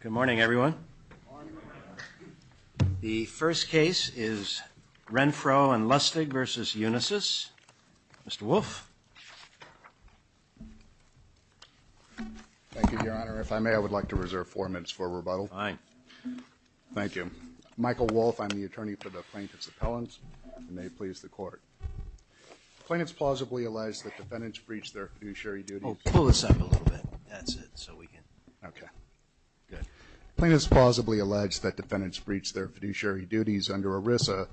Good morning, everyone. The first case is Renfro and Lustig v. Unisys. Mr. Wolfe? Thank you, Your Honor. If I may, I would like to reserve four minutes for rebuttal. Thank you. Michael Wolfe, I'm the attorney for the plaintiff's appellants. May it please the court. The plaintiff's plausibly alleged that defendants breached their fiduciary duties under ERISA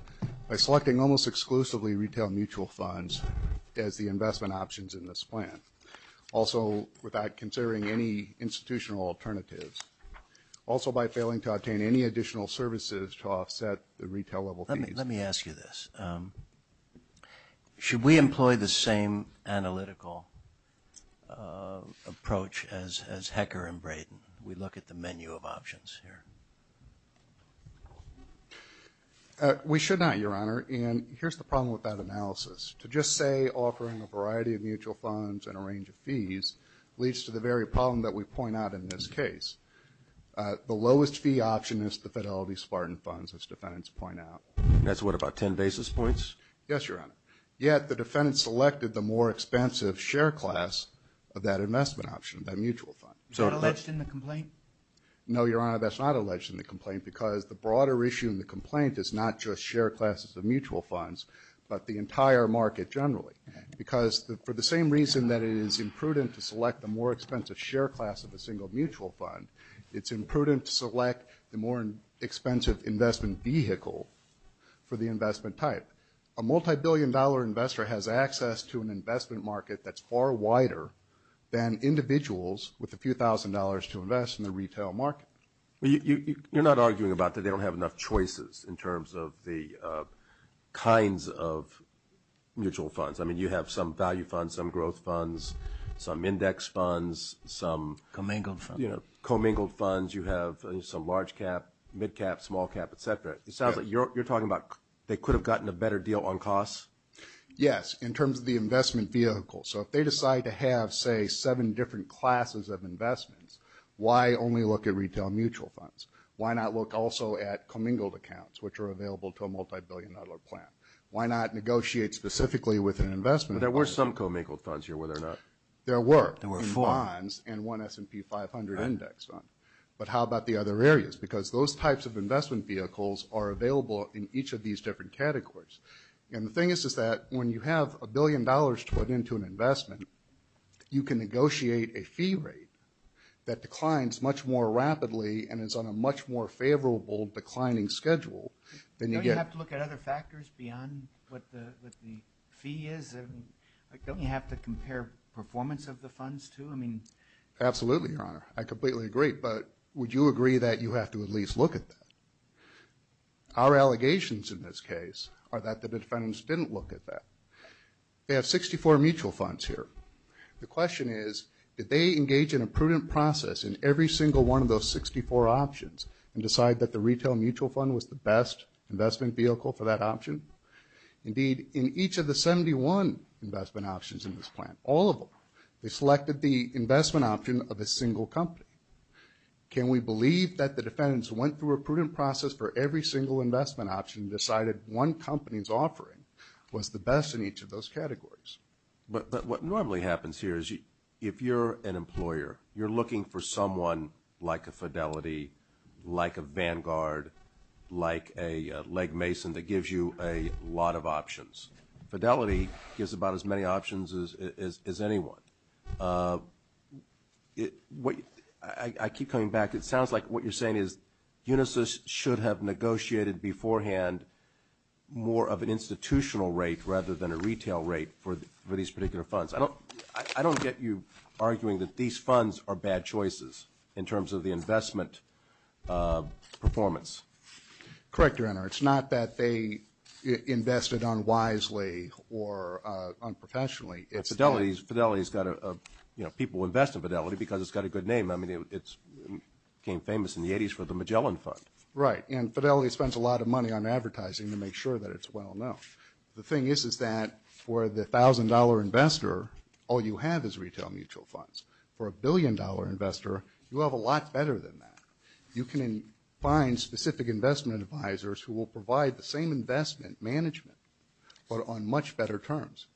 by selecting almost exclusively retail mutual funds as the investment options in this plan, also without considering any institutional alternatives, also by failing to obtain any additional services to offset the retail level fees. Let me ask you this. Should we employ the same analytical approach as Hecker and Braden? We look at the menu of options here. We should not, Your Honor. And here's the problem with that analysis. To just say offering a variety of mutual funds and a range of fees leads to the very problem that we point out in this case. The lowest fee option is the Fidelity Spartan funds, as defendants point out. That's what, about 10 basis points? Yes, Your Honor. Yet the defendants selected the more expensive share class of that investment option, that mutual fund. Is that alleged in the complaint? No, Your Honor, that's not alleged in the complaint because the broader issue in the complaint is not just share classes of mutual funds, but the entire market generally. Because for the same reason that it is imprudent to select the more expensive share class of a single mutual fund, it's imprudent to select the more expensive investment vehicle for the investment type. A multibillion dollar investor has access to an investment market that's far wider than individuals with a few thousand dollars to invest in the retail market. You're not arguing about that they don't have enough choices in terms of the kinds of mutual funds. I mean, you have some value funds, some growth funds, some index funds, some... Commingled funds. You know, commingled funds. You have some large cap, mid cap, small cap, et cetera. It sounds like you're talking about they could have gotten a better deal on costs? Yes, in terms of the investment vehicle. So if they decide to have, say, seven different classes of investments, why only look at retail mutual funds? Why not look also at commingled accounts, which are available to a multibillion dollar plan? Why not negotiate specifically with an investment? There were some commingled funds here, were there not? There were. There were four. In bonds and one S&P 500 index fund. But how about the other areas? Because those types of investment vehicles are available in each of these different categories. And the thing is, is that when you have a billion dollars put into an investment, you can negotiate a fee rate that declines much more rapidly and is on a much more favorable declining schedule than you get... Don't you have to look at other factors beyond what the fee is? Don't you have to compare performance of the funds, too? Absolutely, Your Honor. I completely agree. But would you agree that you have to at least look at that? Our allegations in this case are that the defendants didn't look at that. They have 64 mutual funds here. The question is, did they engage in a prudent process in every single one of those 64 options and decide that the retail mutual fund was the best investment vehicle for that option? Indeed, in each of the 71 investment options in this plan, all of them, they selected the investment option of a single company. Can we believe that the defendants went through a prudent process for every single investment option and decided one company's offering was the best in each of those categories? But what normally happens here is if you're an employer, you're looking for someone like a Fidelity, like a Vanguard, like a Legg Mason that gives you a lot of options. Fidelity gives about as many options as anyone. I keep coming back. It sounds like what you're saying is Unisys should have negotiated beforehand more of an institutional rate rather than a retail rate for these particular funds. I don't get you arguing that these funds are bad choices in terms of the investment performance. Correct, Your Honor. It's not that they invested unwisely or unprofessionally. Fidelity's got a, you know, people invest in Fidelity because it's got a good name. I mean, it became famous in the 80s for the Magellan Fund. Right, and Fidelity spends a lot of money on advertising to make sure that it's well-known. The thing is that for the $1,000 investor, all you have is retail mutual funds. For a billion-dollar investor, you have a lot better than that. You can find specific investment advisors who will provide the same investment management, but on much better terms.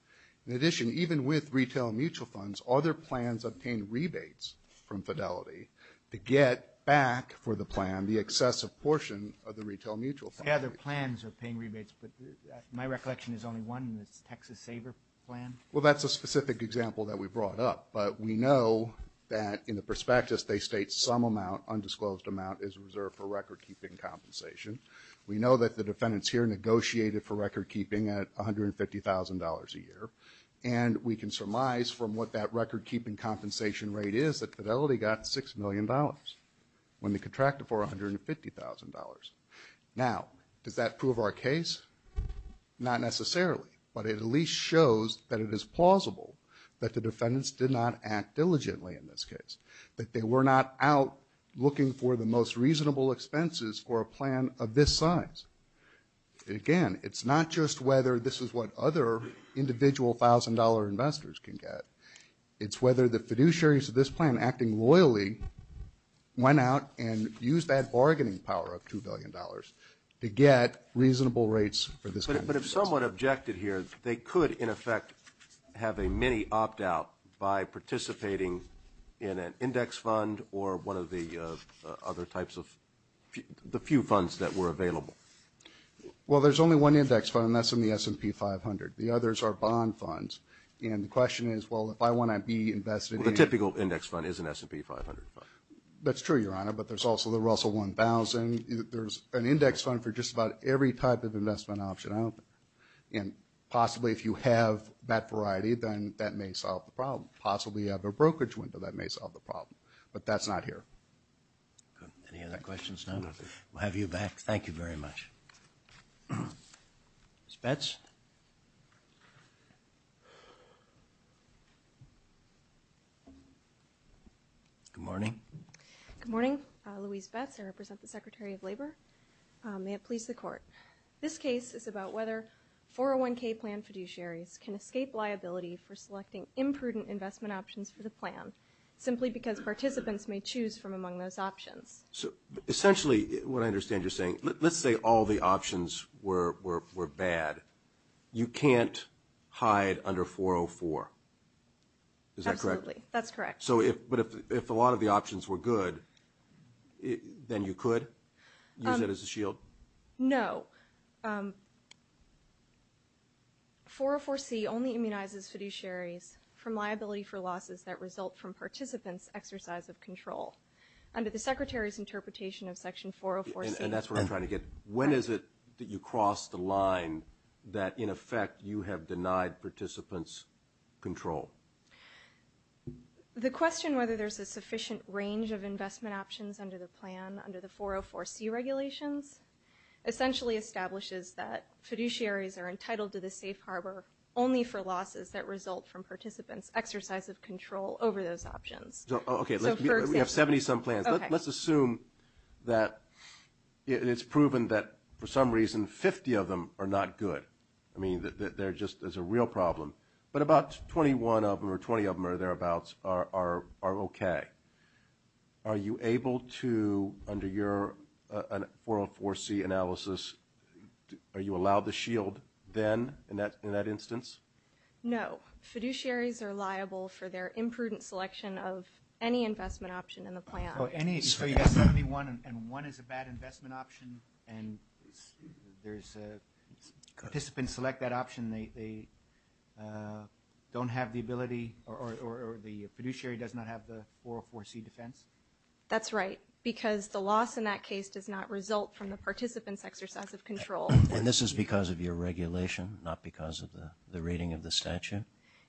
In addition, even with retail mutual funds, other plans obtain rebates from Fidelity to get back for the plan the excessive portion of the retail mutual fund. Yeah, their plans are paying rebates, but my recollection is only one, and it's Texas Saver Plan. Well, that's a specific example that we brought up, but we know that in the prospectus they state some amount, undisclosed amount, is reserved for record-keeping compensation. We know that the defendants here negotiated for record-keeping at $150,000 a year, and we can surmise from what that record-keeping compensation rate is that Fidelity got $6 million when they contracted for $150,000. Now, does that prove our case? Not necessarily, but it at least shows that it is plausible that the defendants did not act diligently in this case, that they were not out looking for the most reasonable expenses for a plan of this size. Again, it's not just whether this is what other individual $1,000 investors can get. It's whether the fiduciaries of this plan acting loyally went out and used that bargaining power of $2 billion to get reasonable rates for this kind of expense. Someone objected here. They could, in effect, have a mini opt-out by participating in an index fund or one of the other types of the few funds that were available. Well, there's only one index fund, and that's in the S&P 500. The others are bond funds. And the question is, well, if I want to be invested in – The typical index fund is an S&P 500 fund. That's true, Your Honor, but there's also the Russell 1000. There's an index fund for just about every type of investment option. And possibly if you have that variety, then that may solve the problem. Possibly you have a brokerage window that may solve the problem. But that's not here. Any other questions? We'll have you back. Thank you very much. Ms. Betz? Good morning. Good morning. Louise Betz. I represent the Secretary of Labor. May it please the Court. This case is about whether 401k plan fiduciaries can escape liability for selecting imprudent investment options for the plan simply because participants may choose from among those options. Essentially what I understand you're saying, let's say all the options were bad. You can't hide under 404. Is that correct? Absolutely. That's correct. But if a lot of the options were good, then you could use it as a shield? No. 404c only immunizes fiduciaries from liability for losses that result from participants' exercise of control. Under the Secretary's interpretation of section 404c. And that's what I'm trying to get. When is it that you cross the line that, in effect, you have denied participants control? The question whether there's a sufficient range of investment options under the 404c regulations essentially establishes that fiduciaries are entitled to the safe harbor only for losses that result from participants' exercise of control over those options. Okay. We have 70-some plans. Let's assume that it's proven that, for some reason, 50 of them are not good. I mean, there's a real problem. But about 21 of them or 20 of them or thereabouts are okay. Are you able to, under your 404c analysis, are you allowed the shield then in that instance? No. Fiduciaries are liable for their imprudent selection of any investment option in the plan. Oh, any? So you have 71 and one is a bad investment option and participants select that option. And they don't have the ability or the fiduciary does not have the 404c defense? That's right, because the loss in that case does not result from the participants' exercise of control. And this is because of your regulation, not because of the reading of the statute?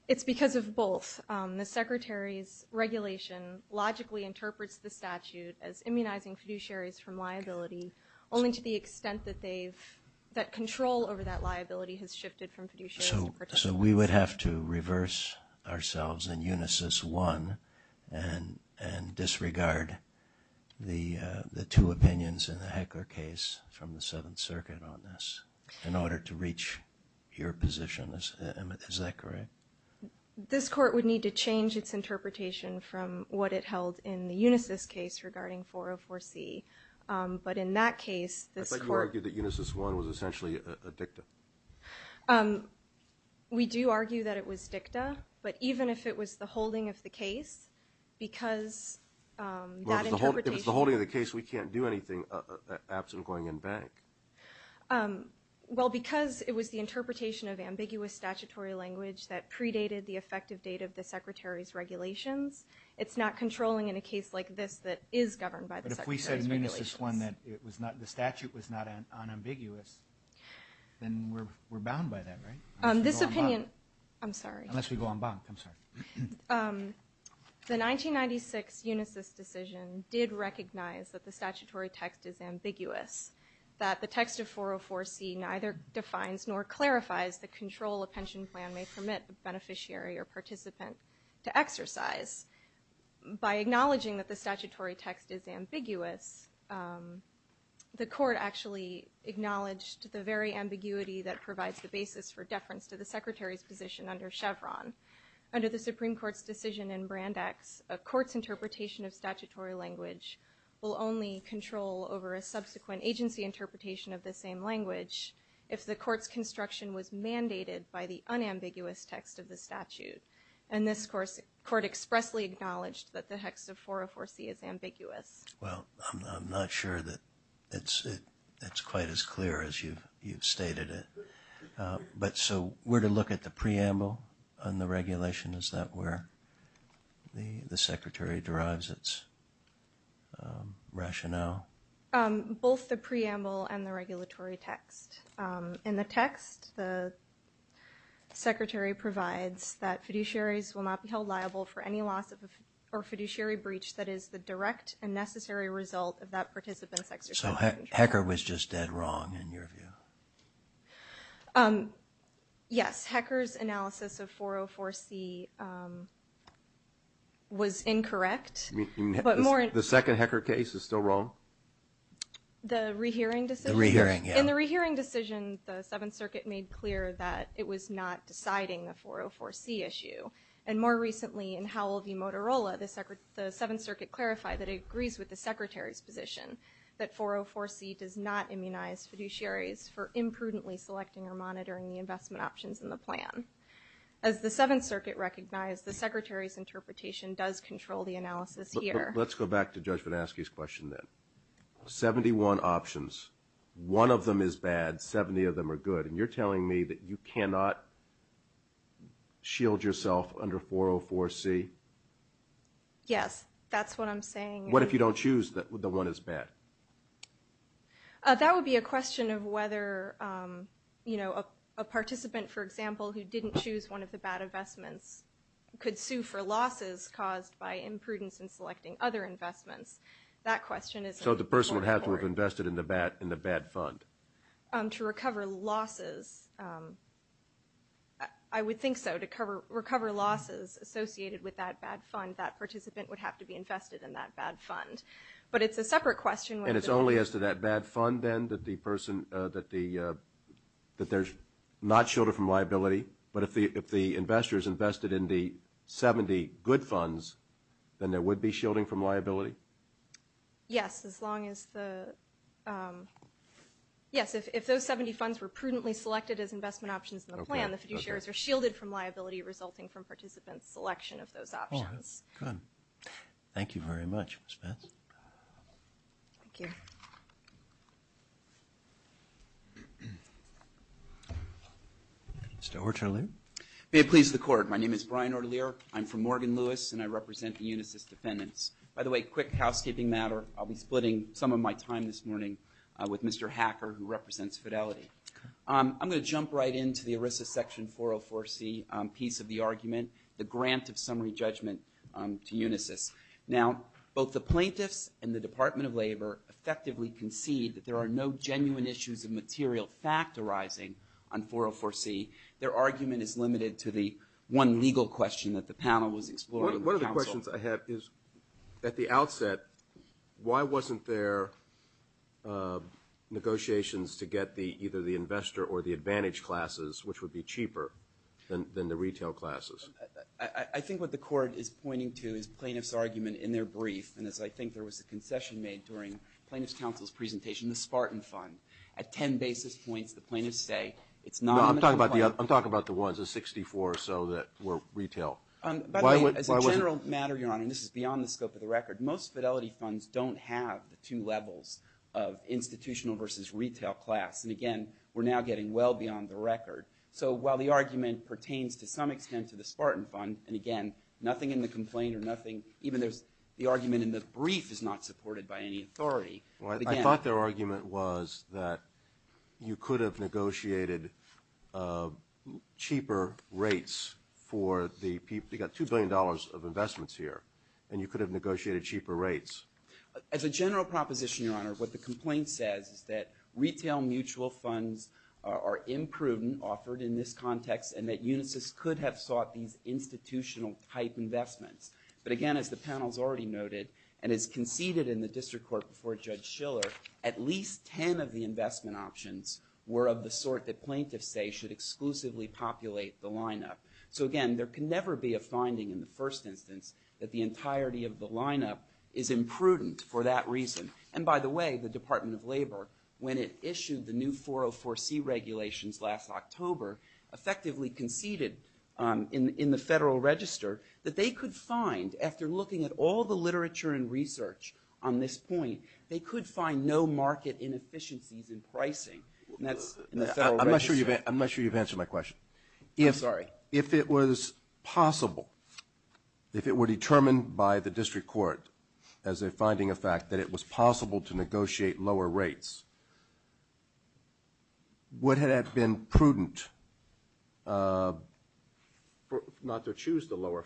It's because of both. The Secretary's regulation logically interprets the statute as immunizing fiduciaries from liability, only to the extent that control over that liability has shifted from fiduciaries to participants. So we would have to reverse ourselves in Unisys 1 and disregard the two opinions in the Hecker case from the Seventh Circuit on this in order to reach your position. Is that correct? This Court would need to change its interpretation from what it held in the Unisys case regarding 404c. But in that case, this Court... I thought you argued that Unisys 1 was essentially a dicta. We do argue that it was dicta, but even if it was the holding of the case, because that interpretation... Well, if it's the holding of the case, we can't do anything absent going in bank. Well, because it was the interpretation of ambiguous statutory language that predated the effective date of the Secretary's regulations, it's not controlling in a case like this that is governed by the Secretary's regulations. But if we said in Unisys 1 that the statute was not unambiguous, then we're bound by that, right? This opinion... I'm sorry. Unless we go on bank, I'm sorry. The 1996 Unisys decision did recognize that the statutory text is ambiguous, that the text of 404c neither defines nor clarifies the control a pension plan may permit a beneficiary or participant to exercise. By acknowledging that the statutory text is ambiguous, the Court actually acknowledged the very ambiguity that provides the basis for deference to the Secretary's position under Chevron. Under the Supreme Court's decision in Brandeis, a court's interpretation of statutory language will only control over a subsequent agency interpretation of the same language if the court's construction was mandated by the unambiguous text of the statute. And this court expressly acknowledged that the text of 404c is ambiguous. Well, I'm not sure that it's quite as clear as you've stated it. But so where to look at the preamble on the regulation? Is that where the Secretary derives its rationale? Both the preamble and the regulatory text. In the text, the Secretary provides that fiduciaries will not be held liable for any loss or fiduciary breach that is the direct and necessary result of that participant's exercise. So HECR was just dead wrong in your view? Yes, HECR's analysis of 404c was incorrect. The second HECR case is still wrong? The rehearing decision? In the rehearing decision, the Seventh Circuit made clear that it was not deciding the 404c issue. And more recently in Howell v. Motorola, the Seventh Circuit clarified that it agrees with the Secretary's position that 404c does not immunize fiduciaries for imprudently selecting or monitoring the investment options in the plan. As the Seventh Circuit recognized, the Secretary's interpretation does control the analysis here. Let's go back to Judge Vanaskie's question then. 71 options. One of them is bad, 70 of them are good, and you're telling me that you cannot shield yourself under 404c? Yes, that's what I'm saying. What if you don't choose the one that's bad? That would be a question of whether a participant, for example, who didn't choose one of the bad investments could sue for losses caused by imprudence in selecting other investments. That question is more important. So the person would have to have invested in the bad fund? To recover losses, I would think so. To recover losses associated with that bad fund, that participant would have to be invested in that bad fund. But it's a separate question. And it's only as to that bad fund then that there's not shielding from liability? But if the investors invested in the 70 good funds, then there would be shielding from liability? Yes, as long as the 70 funds were prudently selected as investment options in the plan, the fiduciaries are shielded from liability resulting from participants' selection of those options. Good. Thank you very much, Ms. Vance. Thank you. Mr. Ortelier. May it please the Court. My name is Brian Ortelier. I'm from Morgan Lewis, and I represent the Unisys defendants. By the way, quick housekeeping matter. I'll be splitting some of my time this morning with Mr. Hacker, who represents Fidelity. I'm going to jump right into the ERISA section 404C piece of the argument, the grant of summary judgment to Unisys. Now, both the plaintiffs and the Department of Labor effectively concede that there are no genuine issues of material fact arising on 404C. Their argument is limited to the one legal question that the panel was exploring with counsel. One of the questions I have is, at the outset, why wasn't there negotiations to get either the investor or the advantage classes, which would be cheaper than the retail classes? I think what the Court is pointing to is plaintiff's argument in their brief, and as I think there was a concession made during plaintiff's counsel's presentation, the Spartan Fund. At 10 basis points, the plaintiffs say it's not going to apply. No, I'm talking about the ones, the 64 or so that were retail. By the way, as a general matter, Your Honor, and this is beyond the scope of the record, most Fidelity funds don't have the two levels of institutional versus retail class. And again, we're now getting well beyond the record. So while the argument pertains to some extent to the Spartan Fund, and again, nothing in the complaint or nothing, even the argument in the brief, is not supported by any authority. I thought their argument was that you could have negotiated cheaper rates for the people. You've got $2 billion of investments here, and you could have negotiated cheaper rates. As a general proposition, Your Honor, what the complaint says is that retail mutual funds are imprudent, offered in this context, and that Unisys could have sought these institutional type investments. But again, as the panel has already noted, and as conceded in the district court before Judge Schiller, at least 10 of the investment options were of the sort that plaintiffs say should exclusively populate the lineup. So again, there can never be a finding in the first instance that the entirety of the lineup is imprudent for that reason. And by the way, the Department of Labor, when it issued the new 404C regulations last October, effectively conceded in the Federal Register that they could find, after looking at all the literature and research on this point, they could find no market inefficiencies in pricing. I'm not sure you've answered my question. I'm sorry. If it was possible, if it were determined by the district court as a finding of fact that it was possible to negotiate lower rates, would it have been prudent not to choose the lower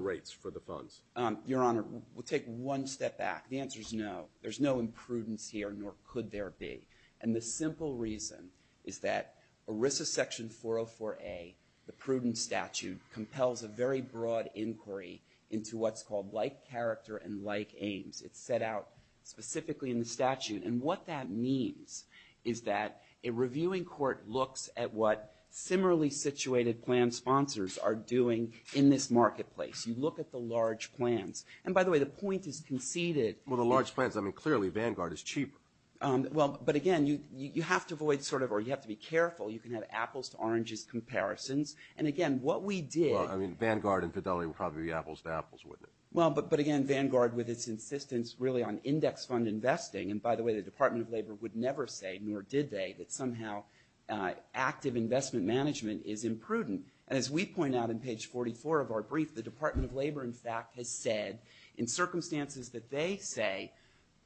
rates for the funds? Your Honor, we'll take one step back. The answer is no. There's no imprudence here, nor could there be. And the simple reason is that ERISA Section 404A, the prudent statute, compels a very broad inquiry into what's called like character and like aims. It's set out specifically in the statute. And what that means is that a reviewing court looks at what similarly situated plan sponsors are doing in this marketplace. You look at the large plans. And by the way, the point is conceded. Well, the large plans, I mean, clearly Vanguard is cheaper. Well, but again, you have to avoid sort of or you have to be careful. You can have apples to oranges comparisons. And again, what we did – Well, I mean, Vanguard and Fidelity would probably be apples to apples, wouldn't it? Well, but again, Vanguard, with its insistence really on index fund investing, and by the way, the Department of Labor would never say, nor did they, that somehow active investment management is imprudent. And as we point out in page 44 of our brief, the Department of Labor, in fact, has said in circumstances that they say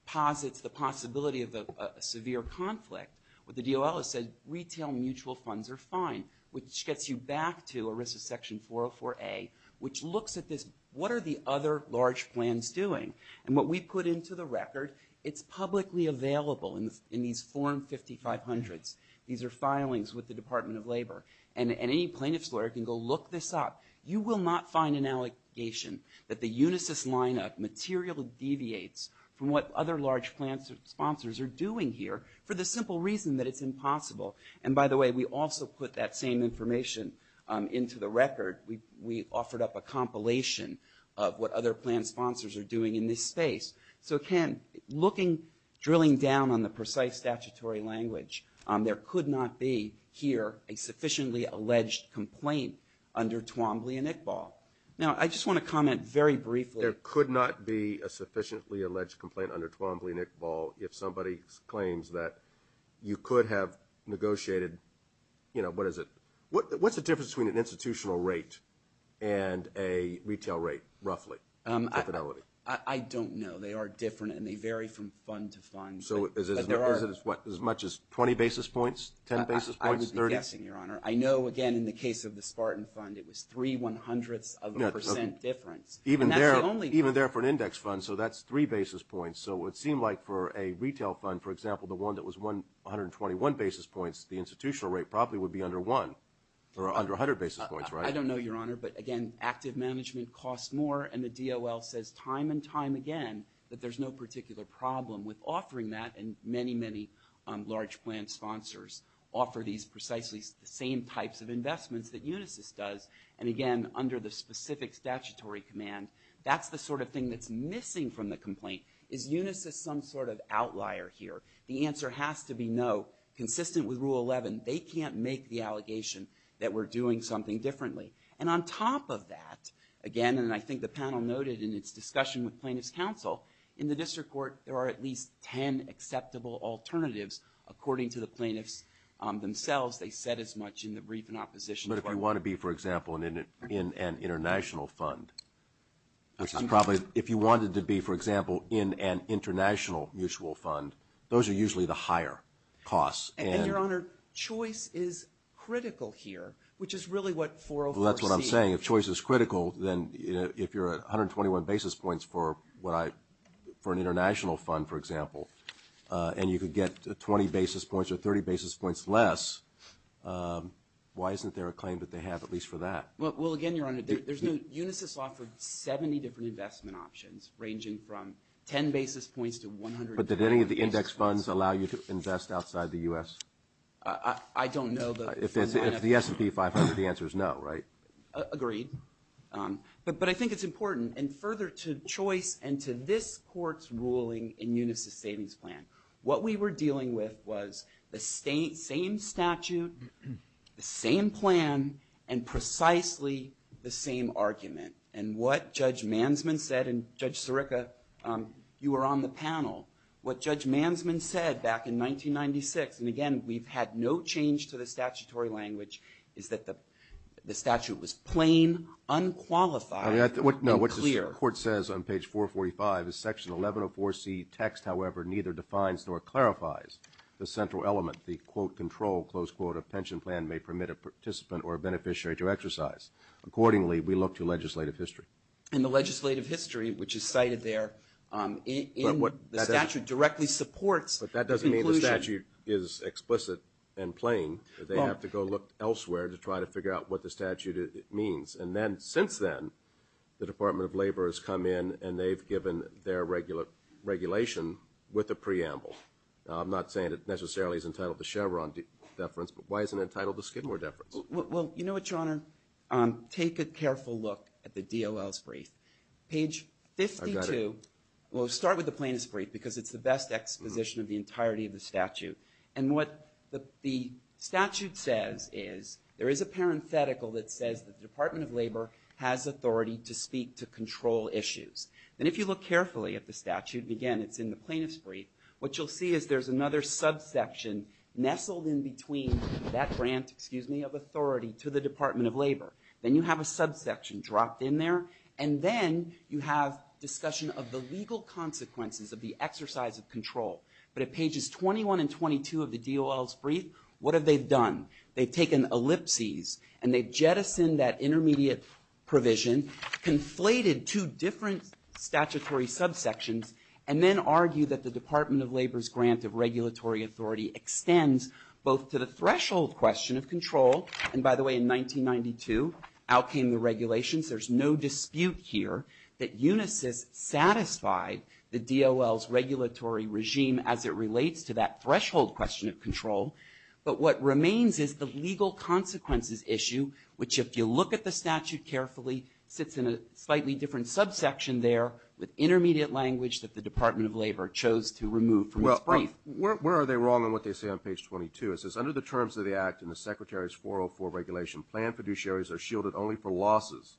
posits the possibility of a severe conflict, but the DOL has said retail mutual funds are fine, which gets you back to ERISA section 404A, which looks at this. What are the other large plans doing? And what we put into the record, it's publicly available in these form 5500s. These are filings with the Department of Labor. And any plaintiff's lawyer can go look this up. You will not find an allegation that the Unisys lineup materially deviates from what other large plan sponsors are doing here for the simple reason that it's impossible. And by the way, we also put that same information into the record. We offered up a compilation of what other plan sponsors are doing in this space. So again, looking, drilling down on the precise statutory language, there could not be here a sufficiently alleged complaint under Twombly and Iqbal. Now, I just want to comment very briefly. There could not be a sufficiently alleged complaint under Twombly and Iqbal if somebody claims that you could have negotiated, you know, what is it? What's the difference between an institutional rate and a retail rate, roughly, for fidelity? I don't know. They are different, and they vary from fund to fund. So is it as much as 20 basis points, 10 basis points, 30? I'm guessing, Your Honor. I know, again, in the case of the Spartan Fund, it was three one-hundredths of a percent difference. Even there for an index fund, so that's three basis points. So it would seem like for a retail fund, for example, the one that was 121 basis points, the institutional rate probably would be under one or under 100 basis points, right? I don't know, Your Honor, but again, active management costs more, and the DOL says time and time again that there's no particular problem with offering that, and many, many large plan sponsors offer these precisely the same types of investments that Unisys does. And again, under the specific statutory command, that's the sort of thing that's missing from the complaint. Is Unisys some sort of outlier here? The answer has to be no. Consistent with Rule 11, they can't make the allegation that we're doing something differently. And on top of that, again, and I think the panel noted in its discussion with plaintiffs' counsel, in the district court there are at least 10 acceptable alternatives, according to the plaintiffs themselves. They said as much in the brief in opposition. But if you want to be, for example, in an international fund, if you wanted to be, for example, in an international mutual fund, those are usually the higher costs. And, Your Honor, choice is critical here, which is really what 404C. Well, that's what I'm saying. If choice is critical, then if you're at 121 basis points for an international fund, for example, and you could get 20 basis points or 30 basis points less, why isn't there a claim that they have at least for that? Well, again, Your Honor, Unisys offered 70 different investment options, ranging from 10 basis points to 100 basis points. But did any of the index funds allow you to invest outside the U.S.? I don't know. If the S&P 500, the answer is no, right? Agreed. But I think it's important. And further to choice and to this court's ruling in Unisys' savings plan, what we were dealing with was the same statute, the same plan, and precisely the same argument. And what Judge Mansman said, and Judge Sirica, you were on the panel, what Judge Mansman said back in 1996, and again, we've had no change to the statutory language, is that the statute was plain, unqualified, and clear. No, what the court says on page 445 is Section 1104C text, however, neither defines nor clarifies the central element, the, quote, control, close quote, a pension plan may permit a participant or a beneficiary to exercise. Accordingly, we look to legislative history. And the legislative history, which is cited there in the statute, directly supports the conclusion. But that doesn't mean the statute is explicit and plain. They have to go look elsewhere to try to figure out what the statute means. And then since then, the Department of Labor has come in and they've given their regulation with a preamble. I'm not saying it necessarily is entitled to Chevron deference, but why is it entitled to Skidmore deference? Well, you know what, Your Honor? Take a careful look at the DOL's brief. Page 52. I've got it. Well, start with the plaintiff's brief because it's the best exposition of the entirety of the statute. And what the statute says is there is a parenthetical that says that the Department of Labor has authority to speak to control issues. And if you look carefully at the statute, again, it's in the plaintiff's brief, what you'll see is there's another subsection nestled in between that grant, excuse me, of authority to the Department of Labor. Then you have a subsection dropped in there. And then you have discussion of the legal consequences of the exercise of control. But at pages 21 and 22 of the DOL's brief, what have they done? They've taken ellipses and they've jettisoned that intermediate provision, conflated two different statutory subsections, and then argued that the Department of Labor's grant of regulatory authority extends both to the threshold question of control. And by the way, in 1992, out came the regulations. There's no dispute here that UNISYS satisfied the DOL's regulatory regime as it relates to that threshold question of control. But what remains is the legal consequences issue, which if you look at the statute carefully, sits in a slightly different subsection there with intermediate language that the Department of Labor chose to remove from its brief. Where are they wrong in what they say on page 22? It says, under the terms of the act and the Secretary's 404 regulation, planned fiduciaries are shielded only for losses,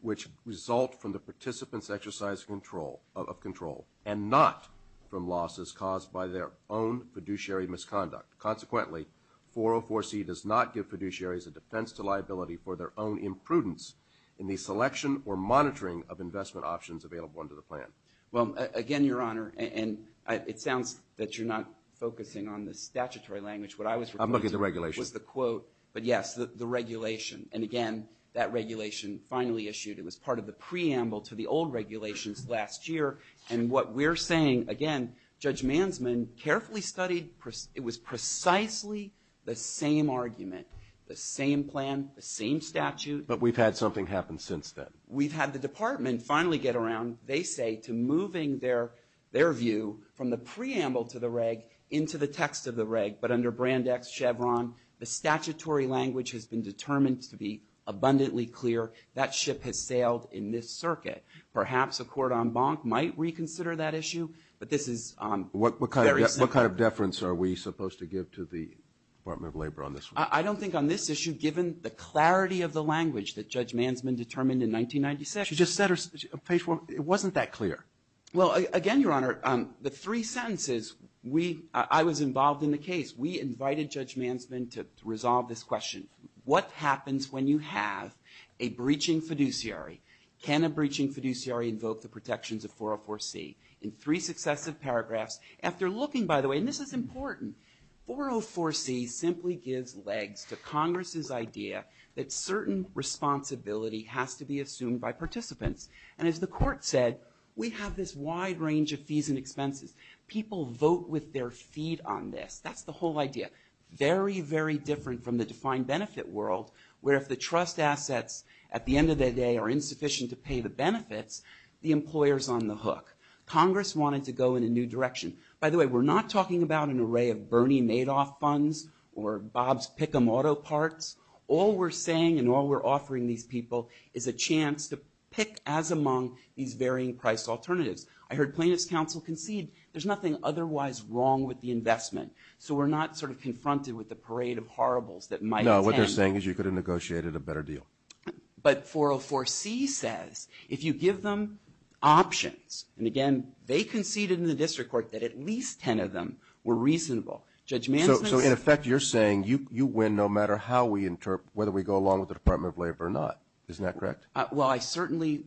which result from the participant's exercise of control and not from losses caused by their own fiduciary misconduct. Consequently, 404C does not give fiduciaries a defense to liability for their own imprudence in the selection or monitoring of investment options available under the plan. Well, again, Your Honor, and it sounds that you're not focusing on the statutory language. What I was referring to was the quote. But yes, the regulation. And again, that regulation finally issued. It was part of the preamble to the old regulations last year. And what we're saying, again, Judge Mansman carefully studied. It was precisely the same argument, the same plan, the same statute. But we've had something happen since then. We've had the department finally get around, they say, to moving their view from the preamble to the reg into the text of the reg. But under Brand X Chevron, the statutory language has been determined to be abundantly clear. That ship has sailed in this circuit. Perhaps a court en banc might reconsider that issue. But this is very simple. What kind of deference are we supposed to give to the Department of Labor on this one? I don't think on this issue, given the clarity of the language that Judge Mansman determined in 1996. She just said it wasn't that clear. Well, again, Your Honor, the three sentences, I was involved in the case. We invited Judge Mansman to resolve this question. What happens when you have a breaching fiduciary? Can a breaching fiduciary invoke the protections of 404C? In three successive paragraphs, after looking, by the way, and this is important, 404C simply gives legs to Congress's idea that certain responsibility has to be assumed by participants. People vote with their feet on this. That's the whole idea. Very, very different from the defined benefit world where if the trust assets, at the end of the day, are insufficient to pay the benefits, the employer's on the hook. Congress wanted to go in a new direction. By the way, we're not talking about an array of Bernie Madoff funds or Bob's pick-em-auto parts. All we're saying and all we're offering these people is a chance to pick as among these varying price alternatives. I heard Plaintiff's Counsel concede there's nothing otherwise wrong with the investment. So we're not sort of confronted with the parade of horribles that might attend. No, what they're saying is you could have negotiated a better deal. But 404C says if you give them options, and again, they conceded in the district court that at least ten of them were reasonable. Judge Mansman says... So, in effect, you're saying you win no matter how we interpret, whether we go along with the Department of Labor or not. Isn't that correct? Well, I certainly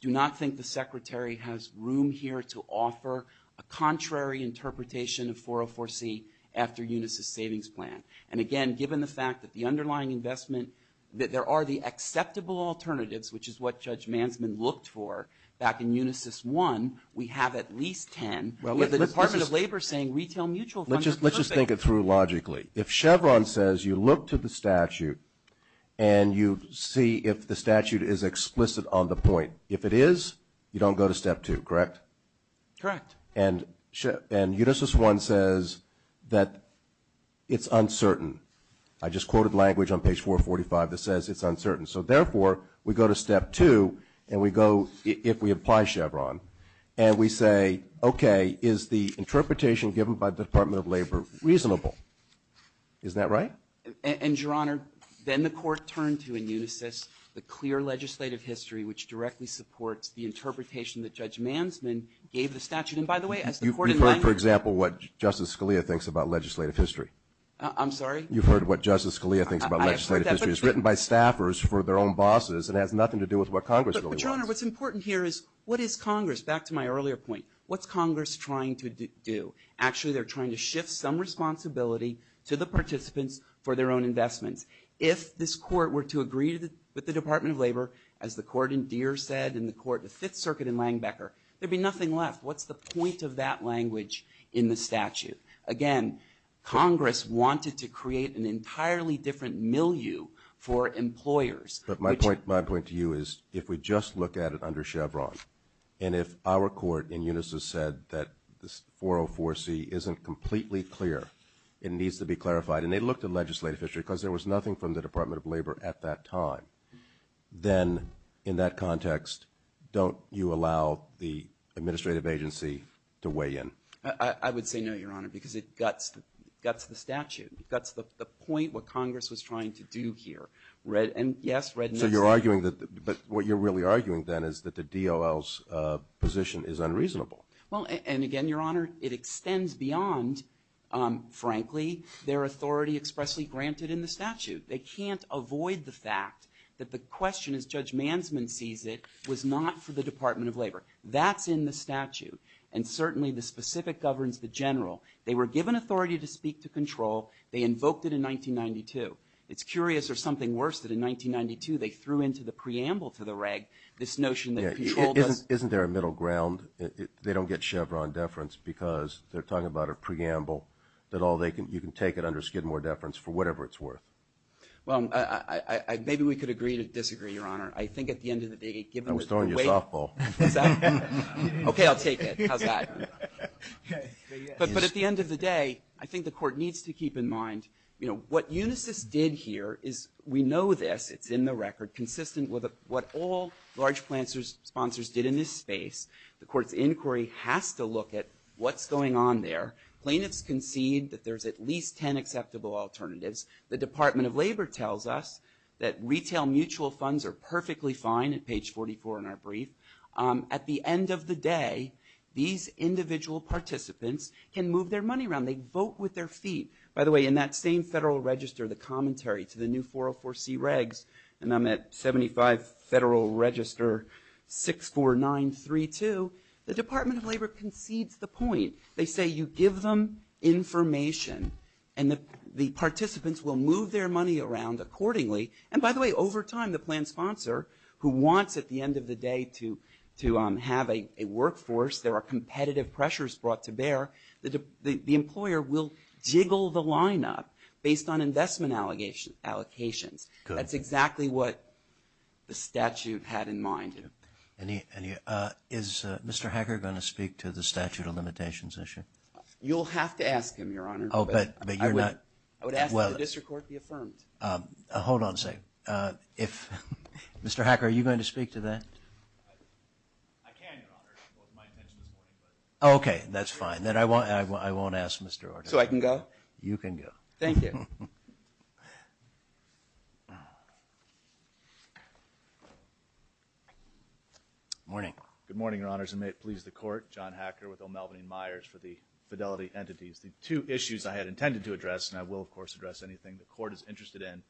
do not think the Secretary has room here to offer a contrary interpretation of 404C after Unisys' savings plan. And again, given the fact that the underlying investment, that there are the acceptable alternatives, which is what Judge Mansman looked for back in Unisys 1, we have at least ten, with the Department of Labor saying retail mutual funds are perfect. Let's just think it through logically. If Chevron says you look to the statute and you see if the statute is explicit on the point, if it is, you don't go to step two, correct? Correct. And Unisys 1 says that it's uncertain. I just quoted language on page 445 that says it's uncertain. So, therefore, we go to step two and we go, if we apply Chevron, and we say, okay, is the interpretation given by the Department of Labor reasonable? Isn't that right? And, Your Honor, then the Court turned to, in Unisys, the clear legislative history, which directly supports the interpretation that Judge Mansman gave the statute. And, by the way, as the Court in language ---- You've heard, for example, what Justice Scalia thinks about legislative history. I'm sorry? You've heard what Justice Scalia thinks about legislative history. I have heard that. It's written by staffers for their own bosses and has nothing to do with what Congress really wants. But, Your Honor, what's important here is what is Congress? Back to my earlier point, what's Congress trying to do? Actually, they're trying to shift some responsibility to the participants for their own investments. If this Court were to agree with the Department of Labor, as the Court in Deere said, and the Court in the Fifth Circuit in Langbecker, there'd be nothing left. What's the point of that language in the statute? Again, Congress wanted to create an entirely different milieu for employers. But my point to you is if we just look at it under Chevron, and if our Court in Unisys said that this 404C isn't completely clear, it needs to be clarified, and they looked at legislative history because there was nothing from the Department of Labor at that time, then, in that context, don't you allow the administrative agency to weigh in? I would say no, Your Honor, because it guts the statute. It guts the point what Congress was trying to do here. So you're arguing that what you're really arguing then is that the DOL's position is unreasonable. Well, and again, Your Honor, it extends beyond, frankly, their authority expressly granted in the statute. They can't avoid the fact that the question, as Judge Mansman sees it, was not for the Department of Labor. That's in the statute, and certainly the specific governs the general. They were given authority to speak to control. They invoked it in 1992. It's curious, or something worse, that in 1992 they threw into the preamble to the reg this notion that control does – Isn't there a middle ground? They don't get Chevron deference because they're talking about a preamble that all they can – you can take it under Skidmore deference for whatever it's worth. Well, maybe we could agree to disagree, Your Honor. I think at the end of the day, given – I was throwing you a softball. What's that? Okay, I'll take it. How's that? But at the end of the day, I think the Court needs to keep in mind, you know, what Unisys did here is – we know this. It's in the record, consistent with what all large sponsors did in this space. The Court's inquiry has to look at what's going on there. Plaintiffs concede that there's at least ten acceptable alternatives. The Department of Labor tells us that retail mutual funds are perfectly fine at page 44 in our brief. At the end of the day, these individual participants can move their money around. They vote with their feet. By the way, in that same federal register, the commentary to the new 404C regs, and I'm at 75 Federal Register 64932, the Department of Labor concedes the point. They say you give them information, and the participants will move their money around accordingly. And by the way, over time, the planned sponsor, who wants at the end of the day to have a workforce, there are competitive pressures brought to bear, the employer will jiggle the lineup based on investment allocations. That's exactly what the statute had in mind. Is Mr. Hacker going to speak to the statute of limitations issue? You'll have to ask him, Your Honor. Oh, but you're not – I would ask that the district court be affirmed. Hold on a second. If – Mr. Hacker, are you going to speak to that? I can, Your Honor. It wasn't my intention this morning, but – Okay, that's fine. Then I won't ask Mr. Hacker. So I can go? You can go. Thank you. Good morning. Good morning, Your Honors, and may it please the court. John Hacker with O'Melveny Myers for the Fidelity Entities. The two issues I had intended to address, and I will, of course, address anything the court is interested in,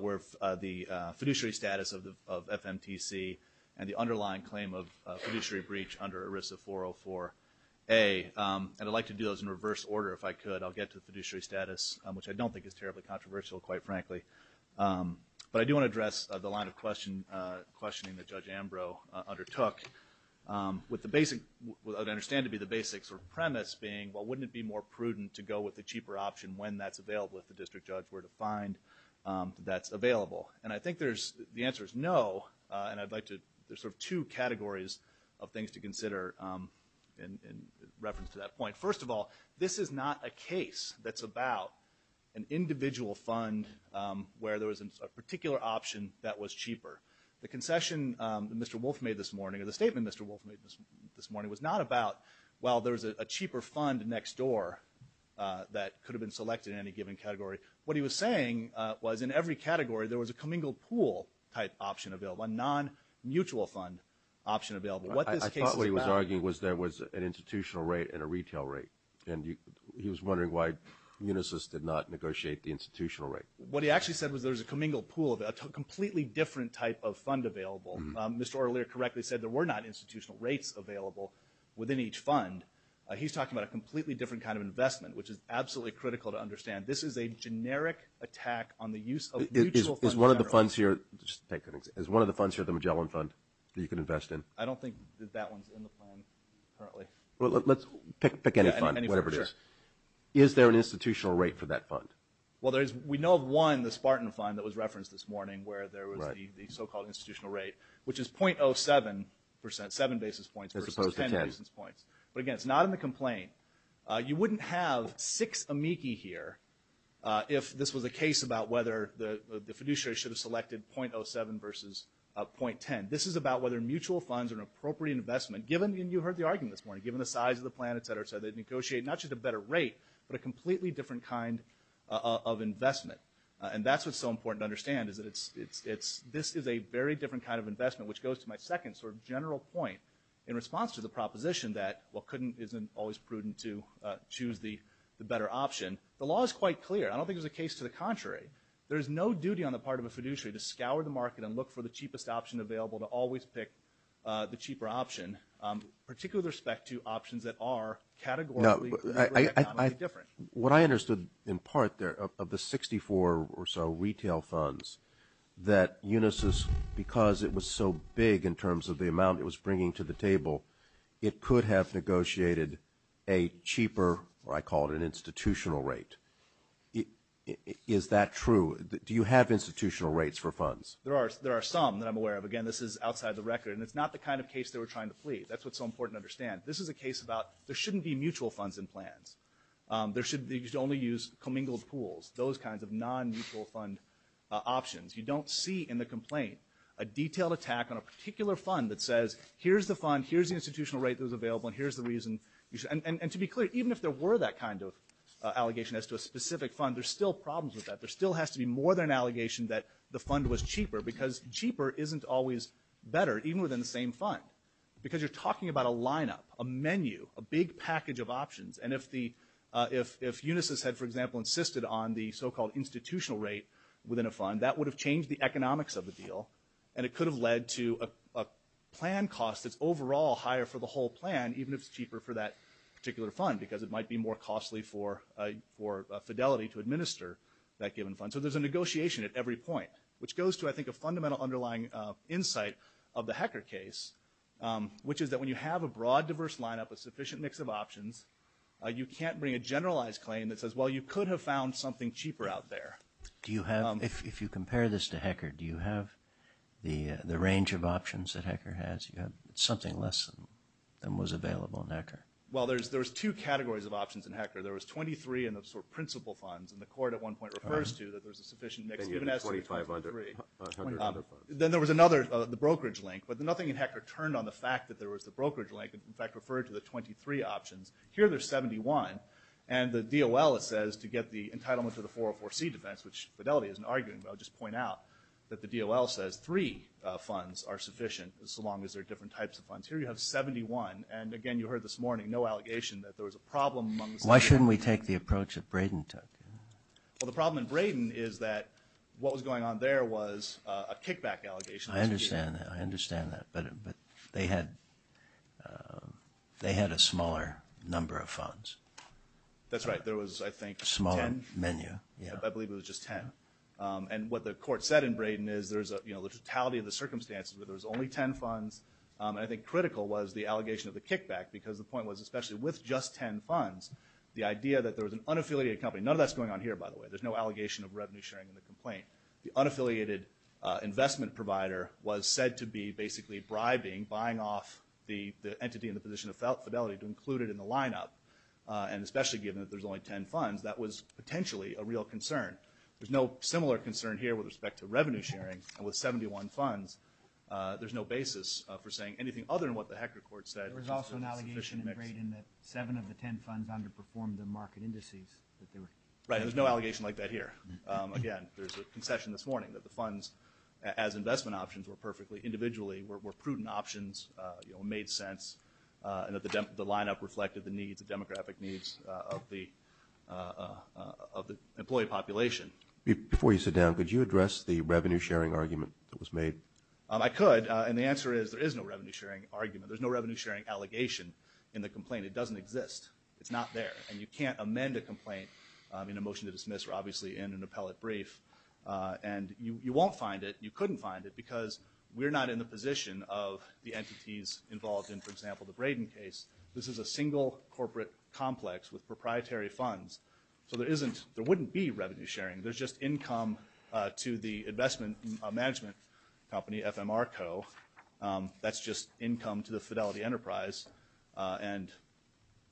were the fiduciary status of FMTC and the underlying claim of fiduciary breach under ERISA 404A. And I'd like to do those in reverse order, if I could. I'll get to the fiduciary status, which I don't think is terribly controversial, quite frankly. But I do want to address the line of questioning that Judge Ambrose undertook, with the basic – what I understand to be the basic sort of premise being, well, wouldn't it be more prudent to go with the cheaper option when that's available, if the district judge were to find that that's available? And I think there's – the answer is no. And I'd like to – there's sort of two categories of things to consider in reference to that point. First of all, this is not a case that's about an individual fund where there was a particular option that was cheaper. The concession that Mr. Wolfe made this morning, or the statement Mr. Wolfe made this morning, was not about, well, there's a cheaper fund next door that could have been selected in any given category. What he was saying was in every category there was a commingled pool-type option available, a non-mutual fund option available. I thought what he was arguing was there was an institutional rate and a retail rate. And he was wondering why Municis did not negotiate the institutional rate. What he actually said was there was a commingled pool, a completely different type of fund available. Mr. Ortelier correctly said there were not institutional rates available within each fund. He's talking about a completely different kind of investment, which is absolutely critical to understand. This is a generic attack on the use of mutual funds. Is one of the funds here – just to take an example – is one of the funds here the Magellan Fund that you can invest in? I don't think that that one's in the plan currently. Well, let's pick any fund, whatever it is. Yeah, any fund, sure. Is there an institutional rate for that fund? Well, there is – we know of one, the Spartan Fund, that was referenced this morning, where there was the so-called institutional rate, which is 0.07 percent, seven basis points versus 10 basis points. But, again, it's not in the complaint. You wouldn't have six amici here if this was a case about whether the fiduciary should have selected 0.07 versus 0.10. This is about whether mutual funds are an appropriate investment, given – and you heard the argument this morning – given the size of the plan, et cetera, et cetera, they'd negotiate not just a better rate, but a completely different kind of investment. And that's what's so important to understand, is that it's – this is a very different kind of investment, which goes to my second sort of general point in response to the proposition that, well, couldn't isn't always prudent to choose the better option. The law is quite clear. I don't think there's a case to the contrary. There is no duty on the part of a fiduciary to scour the market and look for the cheapest option available, to always pick the cheaper option, particularly with respect to options that are categorically different. What I understood in part there, of the 64 or so retail funds, that Unisys, because it was so big in terms of the amount it was bringing to the table, it could have negotiated a cheaper – or I call it an institutional rate. Is that true? Do you have institutional rates for funds? There are some that I'm aware of. Again, this is outside the record, and it's not the kind of case they were trying to plead. That's what's so important to understand. This is a case about there shouldn't be mutual funds in plans. They should only use commingled pools, those kinds of non-mutual fund options. You don't see in the complaint a detailed attack on a particular fund that says, here's the fund, here's the institutional rate that was available, and here's the reason. And to be clear, even if there were that kind of allegation as to a specific fund, there's still problems with that. There still has to be more than an allegation that the fund was cheaper, because cheaper isn't always better, even within the same fund, because you're talking about a lineup, a menu, a big package of options. And if Unisys had, for example, insisted on the so-called institutional rate within a fund, that would have changed the economics of the deal, and it could have led to a plan cost that's overall higher for the whole plan, even if it's cheaper for that particular fund, because it might be more costly for Fidelity to administer that given fund. So there's a negotiation at every point, which goes to, I think, a fundamental underlying insight of the Hecker case, which is that when you have a broad, diverse lineup, a sufficient mix of options, you can't bring a generalized claim that says, well, you could have found something cheaper out there. If you compare this to Hecker, do you have the range of options that Hecker has? You have something less than was available in Hecker. Well, there's two categories of options in Hecker. There was 23 in the sort of principal funds, and the court at one point refers to that there's a sufficient mix. Then there was another, the brokerage link, but nothing in Hecker turned on the fact that there was the brokerage link. In fact, it referred to the 23 options. Here there's 71, and the DOL, it says, to get the entitlement to the 404C defense, which Fidelity isn't arguing, but I'll just point out that the DOL says three funds are sufficient, so long as there are different types of funds. Here you have 71, and, again, you heard this morning, no allegation that there was a problem. Why shouldn't we take the approach that Braden took? Well, the problem in Braden is that what was going on there was a kickback allegation. I understand that. I understand that, but they had a smaller number of funds. That's right. There was, I think, a smaller menu. Ten? I believe it was just ten. And what the court said in Braden is there's a, you know, the totality of the circumstances where there was only ten funds, and I think critical was the allegation of the kickback, because the point was especially with just ten funds, the idea that there was an unaffiliated company. None of that's going on here, by the way. There's no allegation of revenue sharing in the complaint. The unaffiliated investment provider was said to be basically bribing, buying off the entity in the position of fidelity to include it in the lineup, and especially given that there's only ten funds, that was potentially a real concern. There's no similar concern here with respect to revenue sharing, and with 71 funds there's no basis for saying anything other than what the Hecker court said. There was also an allegation in Braden that seven of the ten funds had underperformed their market indices. Right, and there's no allegation like that here. Again, there's a concession this morning that the funds as investment options were perfectly individually, were prudent options, you know, made sense, and that the lineup reflected the needs, the demographic needs of the employee population. Before you sit down, could you address the revenue sharing argument that was made? I could, and the answer is there is no revenue sharing argument. There's no revenue sharing allegation in the complaint. It doesn't exist. It's not there, and you can't amend a complaint in a motion to dismiss, or obviously in an appellate brief, and you won't find it. You couldn't find it because we're not in the position of the entities involved in, for example, the Braden case. This is a single corporate complex with proprietary funds, so there isn't, there wouldn't be revenue sharing. There's just income to the investment management company, FMR Co. That's just income to the Fidelity Enterprise, and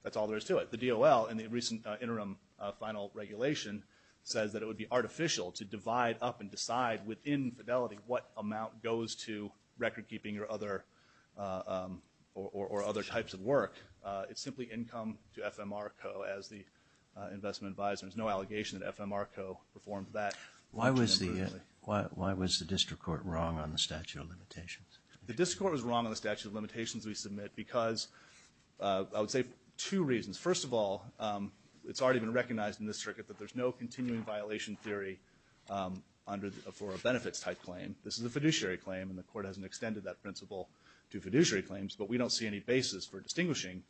that's all there is to it. The DOL, in the recent interim final regulation, says that it would be artificial to divide up and decide within Fidelity what amount goes to record keeping or other types of work. It's simply income to FMR Co. as the investment advisor. There's no allegation that FMR Co. performed that. Why was the district court wrong on the statute of limitations? The district court was wrong on the statute of limitations we submit because I would say two reasons. First of all, it's already been recognized in this circuit that there's no continuing violation theory for a benefits-type claim. This is a fiduciary claim, and the court hasn't extended that principle to fiduciary claims, but we don't see any basis for distinguishing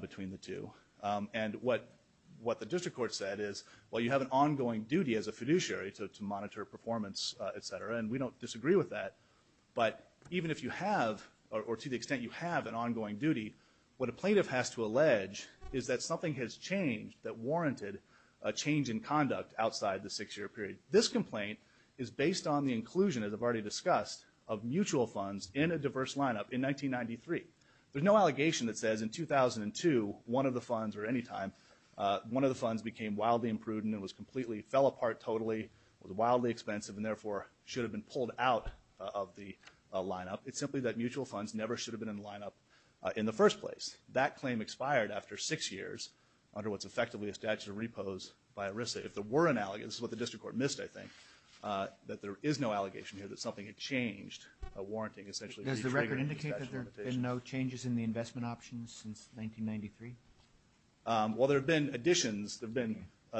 between the two. And what the district court said is, well, you have an ongoing duty as a fiduciary to monitor performance, et cetera, and we don't disagree with that, but even if you have, or to the extent you have an ongoing duty, what a plaintiff has to allege is that something has changed that warranted a change in conduct outside the 6-year period. This complaint is based on the inclusion, as I've already discussed, of mutual funds in a diverse lineup in 1993. There's no allegation that says in 2002, one of the funds, or any time, one of the funds became wildly imprudent and fell apart totally, was wildly expensive, and therefore should have been pulled out of the lineup. It's simply that mutual funds never should have been in the lineup in the first place. That claim expired after 6 years under what's effectively a statute of repose by ERISA. If there were an allegation, this is what the district court missed, I think, that there is no allegation here that something had changed, a warranting essentially retriggered a statute of limitations. Does the record indicate that there have been no changes in the investment options since 1993? Well, there have been additions. There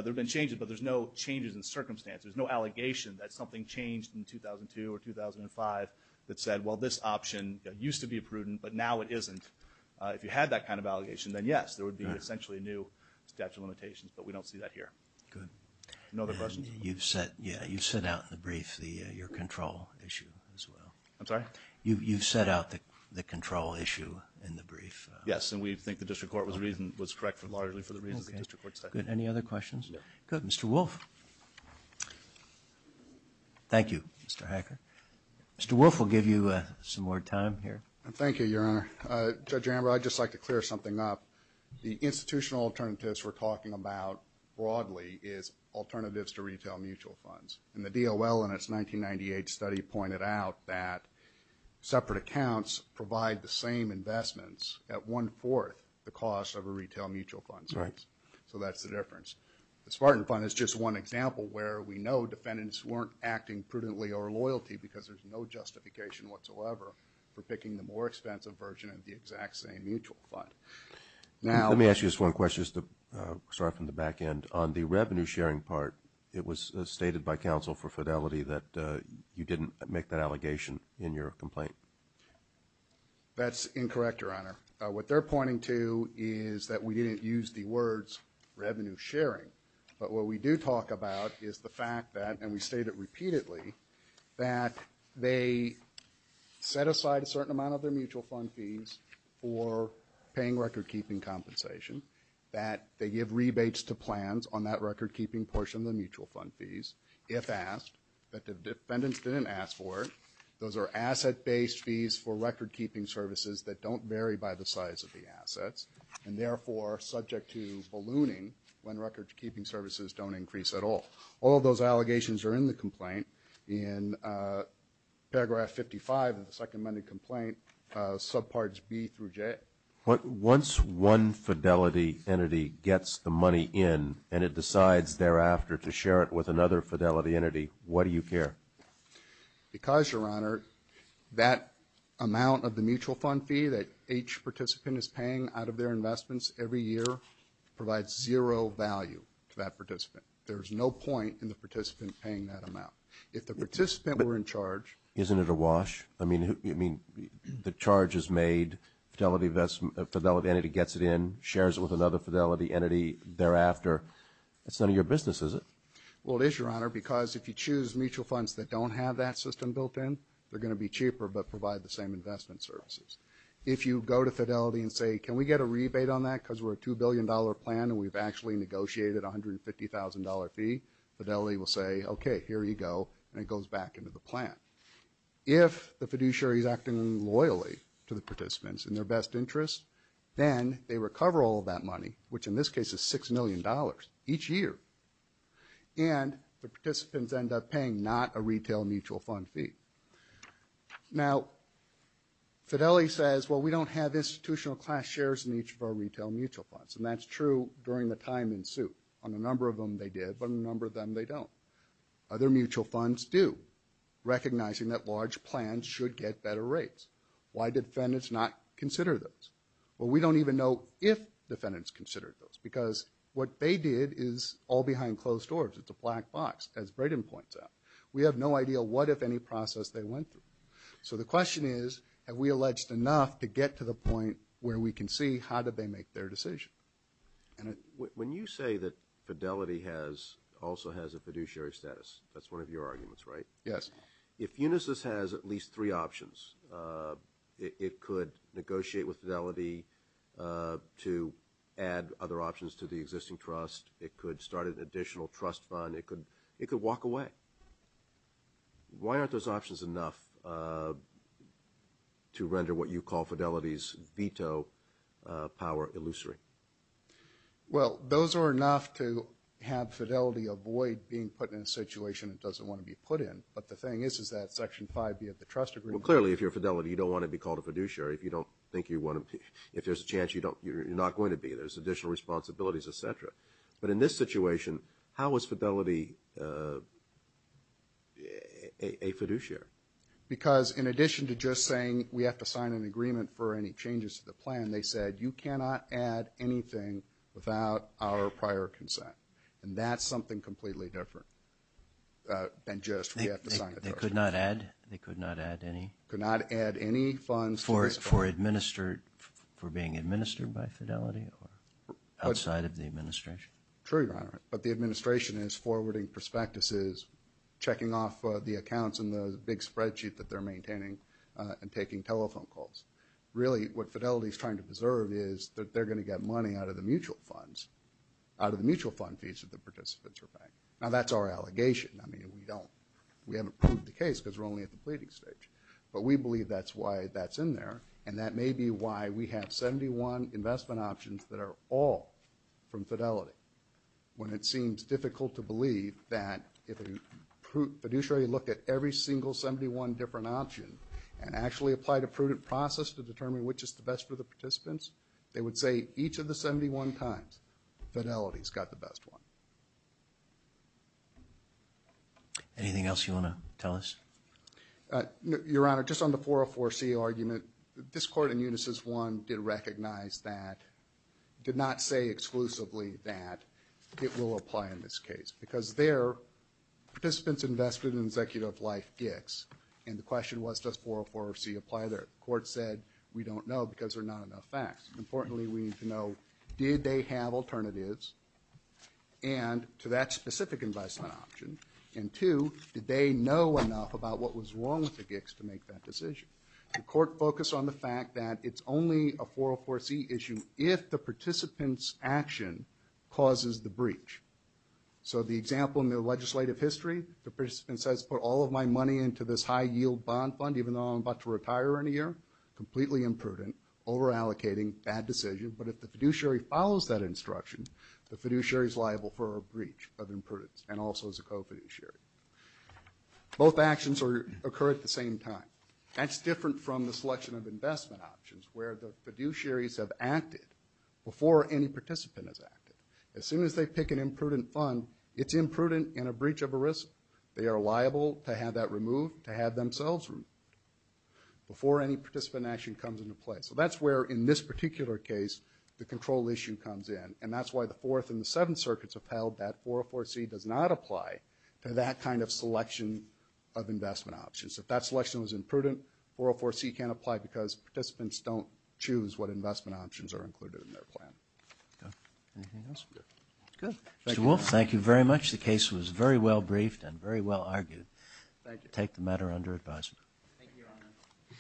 have been changes, but there's no changes in circumstance. There's no allegation that something changed in 2002 or 2005 that said, well, this option used to be prudent, but now it isn't. If you had that kind of allegation, then yes, there would be essentially a new statute of limitations, but we don't see that here. Good. No other questions? You've set out in the brief your control issue as well. I'm sorry? You've set out the control issue in the brief. Yes, and we think the district court was correct largely for the reasons the district court set. Good. Any other questions? No. Good. Mr. Wolf. Thank you, Mr. Hacker. Mr. Wolf will give you some more time here. Thank you, Your Honor. Judge Amber, I'd just like to clear something up. The institutional alternatives we're talking about broadly is alternatives to retail mutual funds, and the DOL in its 1998 study pointed out that separate accounts provide the same investments at one-fourth the cost of a retail mutual fund. Right. So that's the difference. The Spartan Fund is just one example where we know defendants weren't acting prudently or loyally because there's no justification whatsoever for picking the more expensive version of the exact same mutual fund. Let me ask you just one question, just to start from the back end. On the revenue-sharing part, it was stated by counsel for fidelity that you didn't make that allegation in your complaint. That's incorrect, Your Honor. What they're pointing to is that we didn't use the words revenue-sharing, but what we do talk about is the fact that, and we state it repeatedly, that they set aside a certain amount of their mutual fund fees for paying record-keeping compensation, that they give rebates to plans on that record-keeping portion of the mutual fund fees if asked, that the defendants didn't ask for it. Those are asset-based fees for record-keeping services that don't vary by the size of the assets and, therefore, are subject to ballooning when record-keeping services don't increase at all. All of those allegations are in the complaint. In paragraph 55 of the second amended complaint, subparts B through J. Once one fidelity entity gets the money in and it decides thereafter to share it with another fidelity entity, what do you care? Because, Your Honor, that amount of the mutual fund fee that each participant is paying out of their investments every year provides zero value to that participant. There's no point in the participant paying that amount. If the participant were in charge. Isn't it a wash? I mean, the charge is made. Fidelity entity gets it in, shares it with another fidelity entity thereafter. That's none of your business, is it? Well, it is, Your Honor, because if you choose mutual funds that don't have that system built in, they're going to be cheaper but provide the same investment services. If you go to Fidelity and say, can we get a rebate on that because we're a $2 billion plan and we've actually negotiated a $150,000 fee, Fidelity will say, okay, here you go, and it goes back into the plan. If the fiduciary is acting loyally to the participants in their best interest, then they recover all of that money, which in this case is $6 million each year, and the participants end up paying not a retail mutual fund fee. Now, Fidelity says, well, we don't have institutional class shares in each of our retail mutual funds, and that's true during the time in suit. On a number of them they did, but on a number of them they don't. Other mutual funds do, recognizing that large plans should get better rates. Why did defendants not consider those? Well, we don't even know if defendants considered those, because what they did is all behind closed doors. It's a black box, as Braden points out. We have no idea what, if any, process they went through. So the question is, have we alleged enough to get to the point where we can see, how did they make their decision? When you say that Fidelity also has a fiduciary status, that's one of your arguments, right? Yes. If Unisys has at least three options, it could negotiate with Fidelity to add other options to the existing trust. It could start an additional trust fund. It could walk away. Why aren't those options enough to render what you call Fidelity's veto power illusory? Well, those are enough to have Fidelity avoid being put in a situation it doesn't want to be put in. But the thing is, is that Section 5B of the trust agreement? Well, clearly, if you're Fidelity, you don't want to be called a fiduciary. If you don't think you want to be, if there's a chance you're not going to be. There's additional responsibilities, et cetera. But in this situation, how is Fidelity a fiduciary? Because in addition to just saying we have to sign an agreement for any changes to the plan, they said you cannot add anything without our prior consent. And that's something completely different than just we have to sign the trust agreement. They could not add? They could not add any? For being administered by Fidelity or outside of the administration? True, Your Honor. But the administration is forwarding prospectuses, checking off the accounts in the big spreadsheet that they're maintaining, and taking telephone calls. Really, what Fidelity is trying to preserve is that they're going to get money out of the mutual funds, out of the mutual fund fees that the participants are paying. Now, that's our allegation. I mean, we don't. We haven't proved the case because we're only at the pleading stage. But we believe that's why that's in there, and that may be why we have 71 investment options that are all from Fidelity. When it seems difficult to believe that if a fiduciary looked at every single 71 different options and actually applied a prudent process to determine which is the best for the participants, they would say each of the 71 times Fidelity's got the best one. Anything else you want to tell us? Your Honor, just on the 404C argument, this Court in Unisys 1 did recognize that, did not say exclusively that it will apply in this case. Because there, participants invested in Executive Life GICs, and the question was, does 404C apply there? The Court said, we don't know because there are not enough facts. Importantly, we need to know, did they have alternatives to that specific investment option? And two, did they know enough about what was wrong with the GICs to make that decision? The Court focused on the fact that it's only a 404C issue if the participant's action causes the breach. So the example in the legislative history, the participant says, put all of my money into this high-yield bond fund even though I'm about to retire in a year, completely imprudent, over-allocating, bad decision. But if the fiduciary follows that instruction, the fiduciary's liable for a breach of imprudence and also is a co-fiduciary. Both actions occur at the same time. That's different from the selection of investment options where the fiduciaries have acted before any participant has acted. As soon as they pick an imprudent fund, it's imprudent and a breach of a risk. They are liable to have that removed, to have themselves removed. Before any participant action comes into play. So that's where, in this particular case, the control issue comes in. And that's why the Fourth and the Seventh Circuits upheld that 404C does not apply to that kind of selection of investment options. If that selection was imprudent, 404C can't apply because participants don't choose what investment options are included in their plan. Anything else? Good. Mr. Wolf, thank you very much. The case was very well briefed and very well argued. Thank you. I take the matter under advisement. Thank you, Your Honor.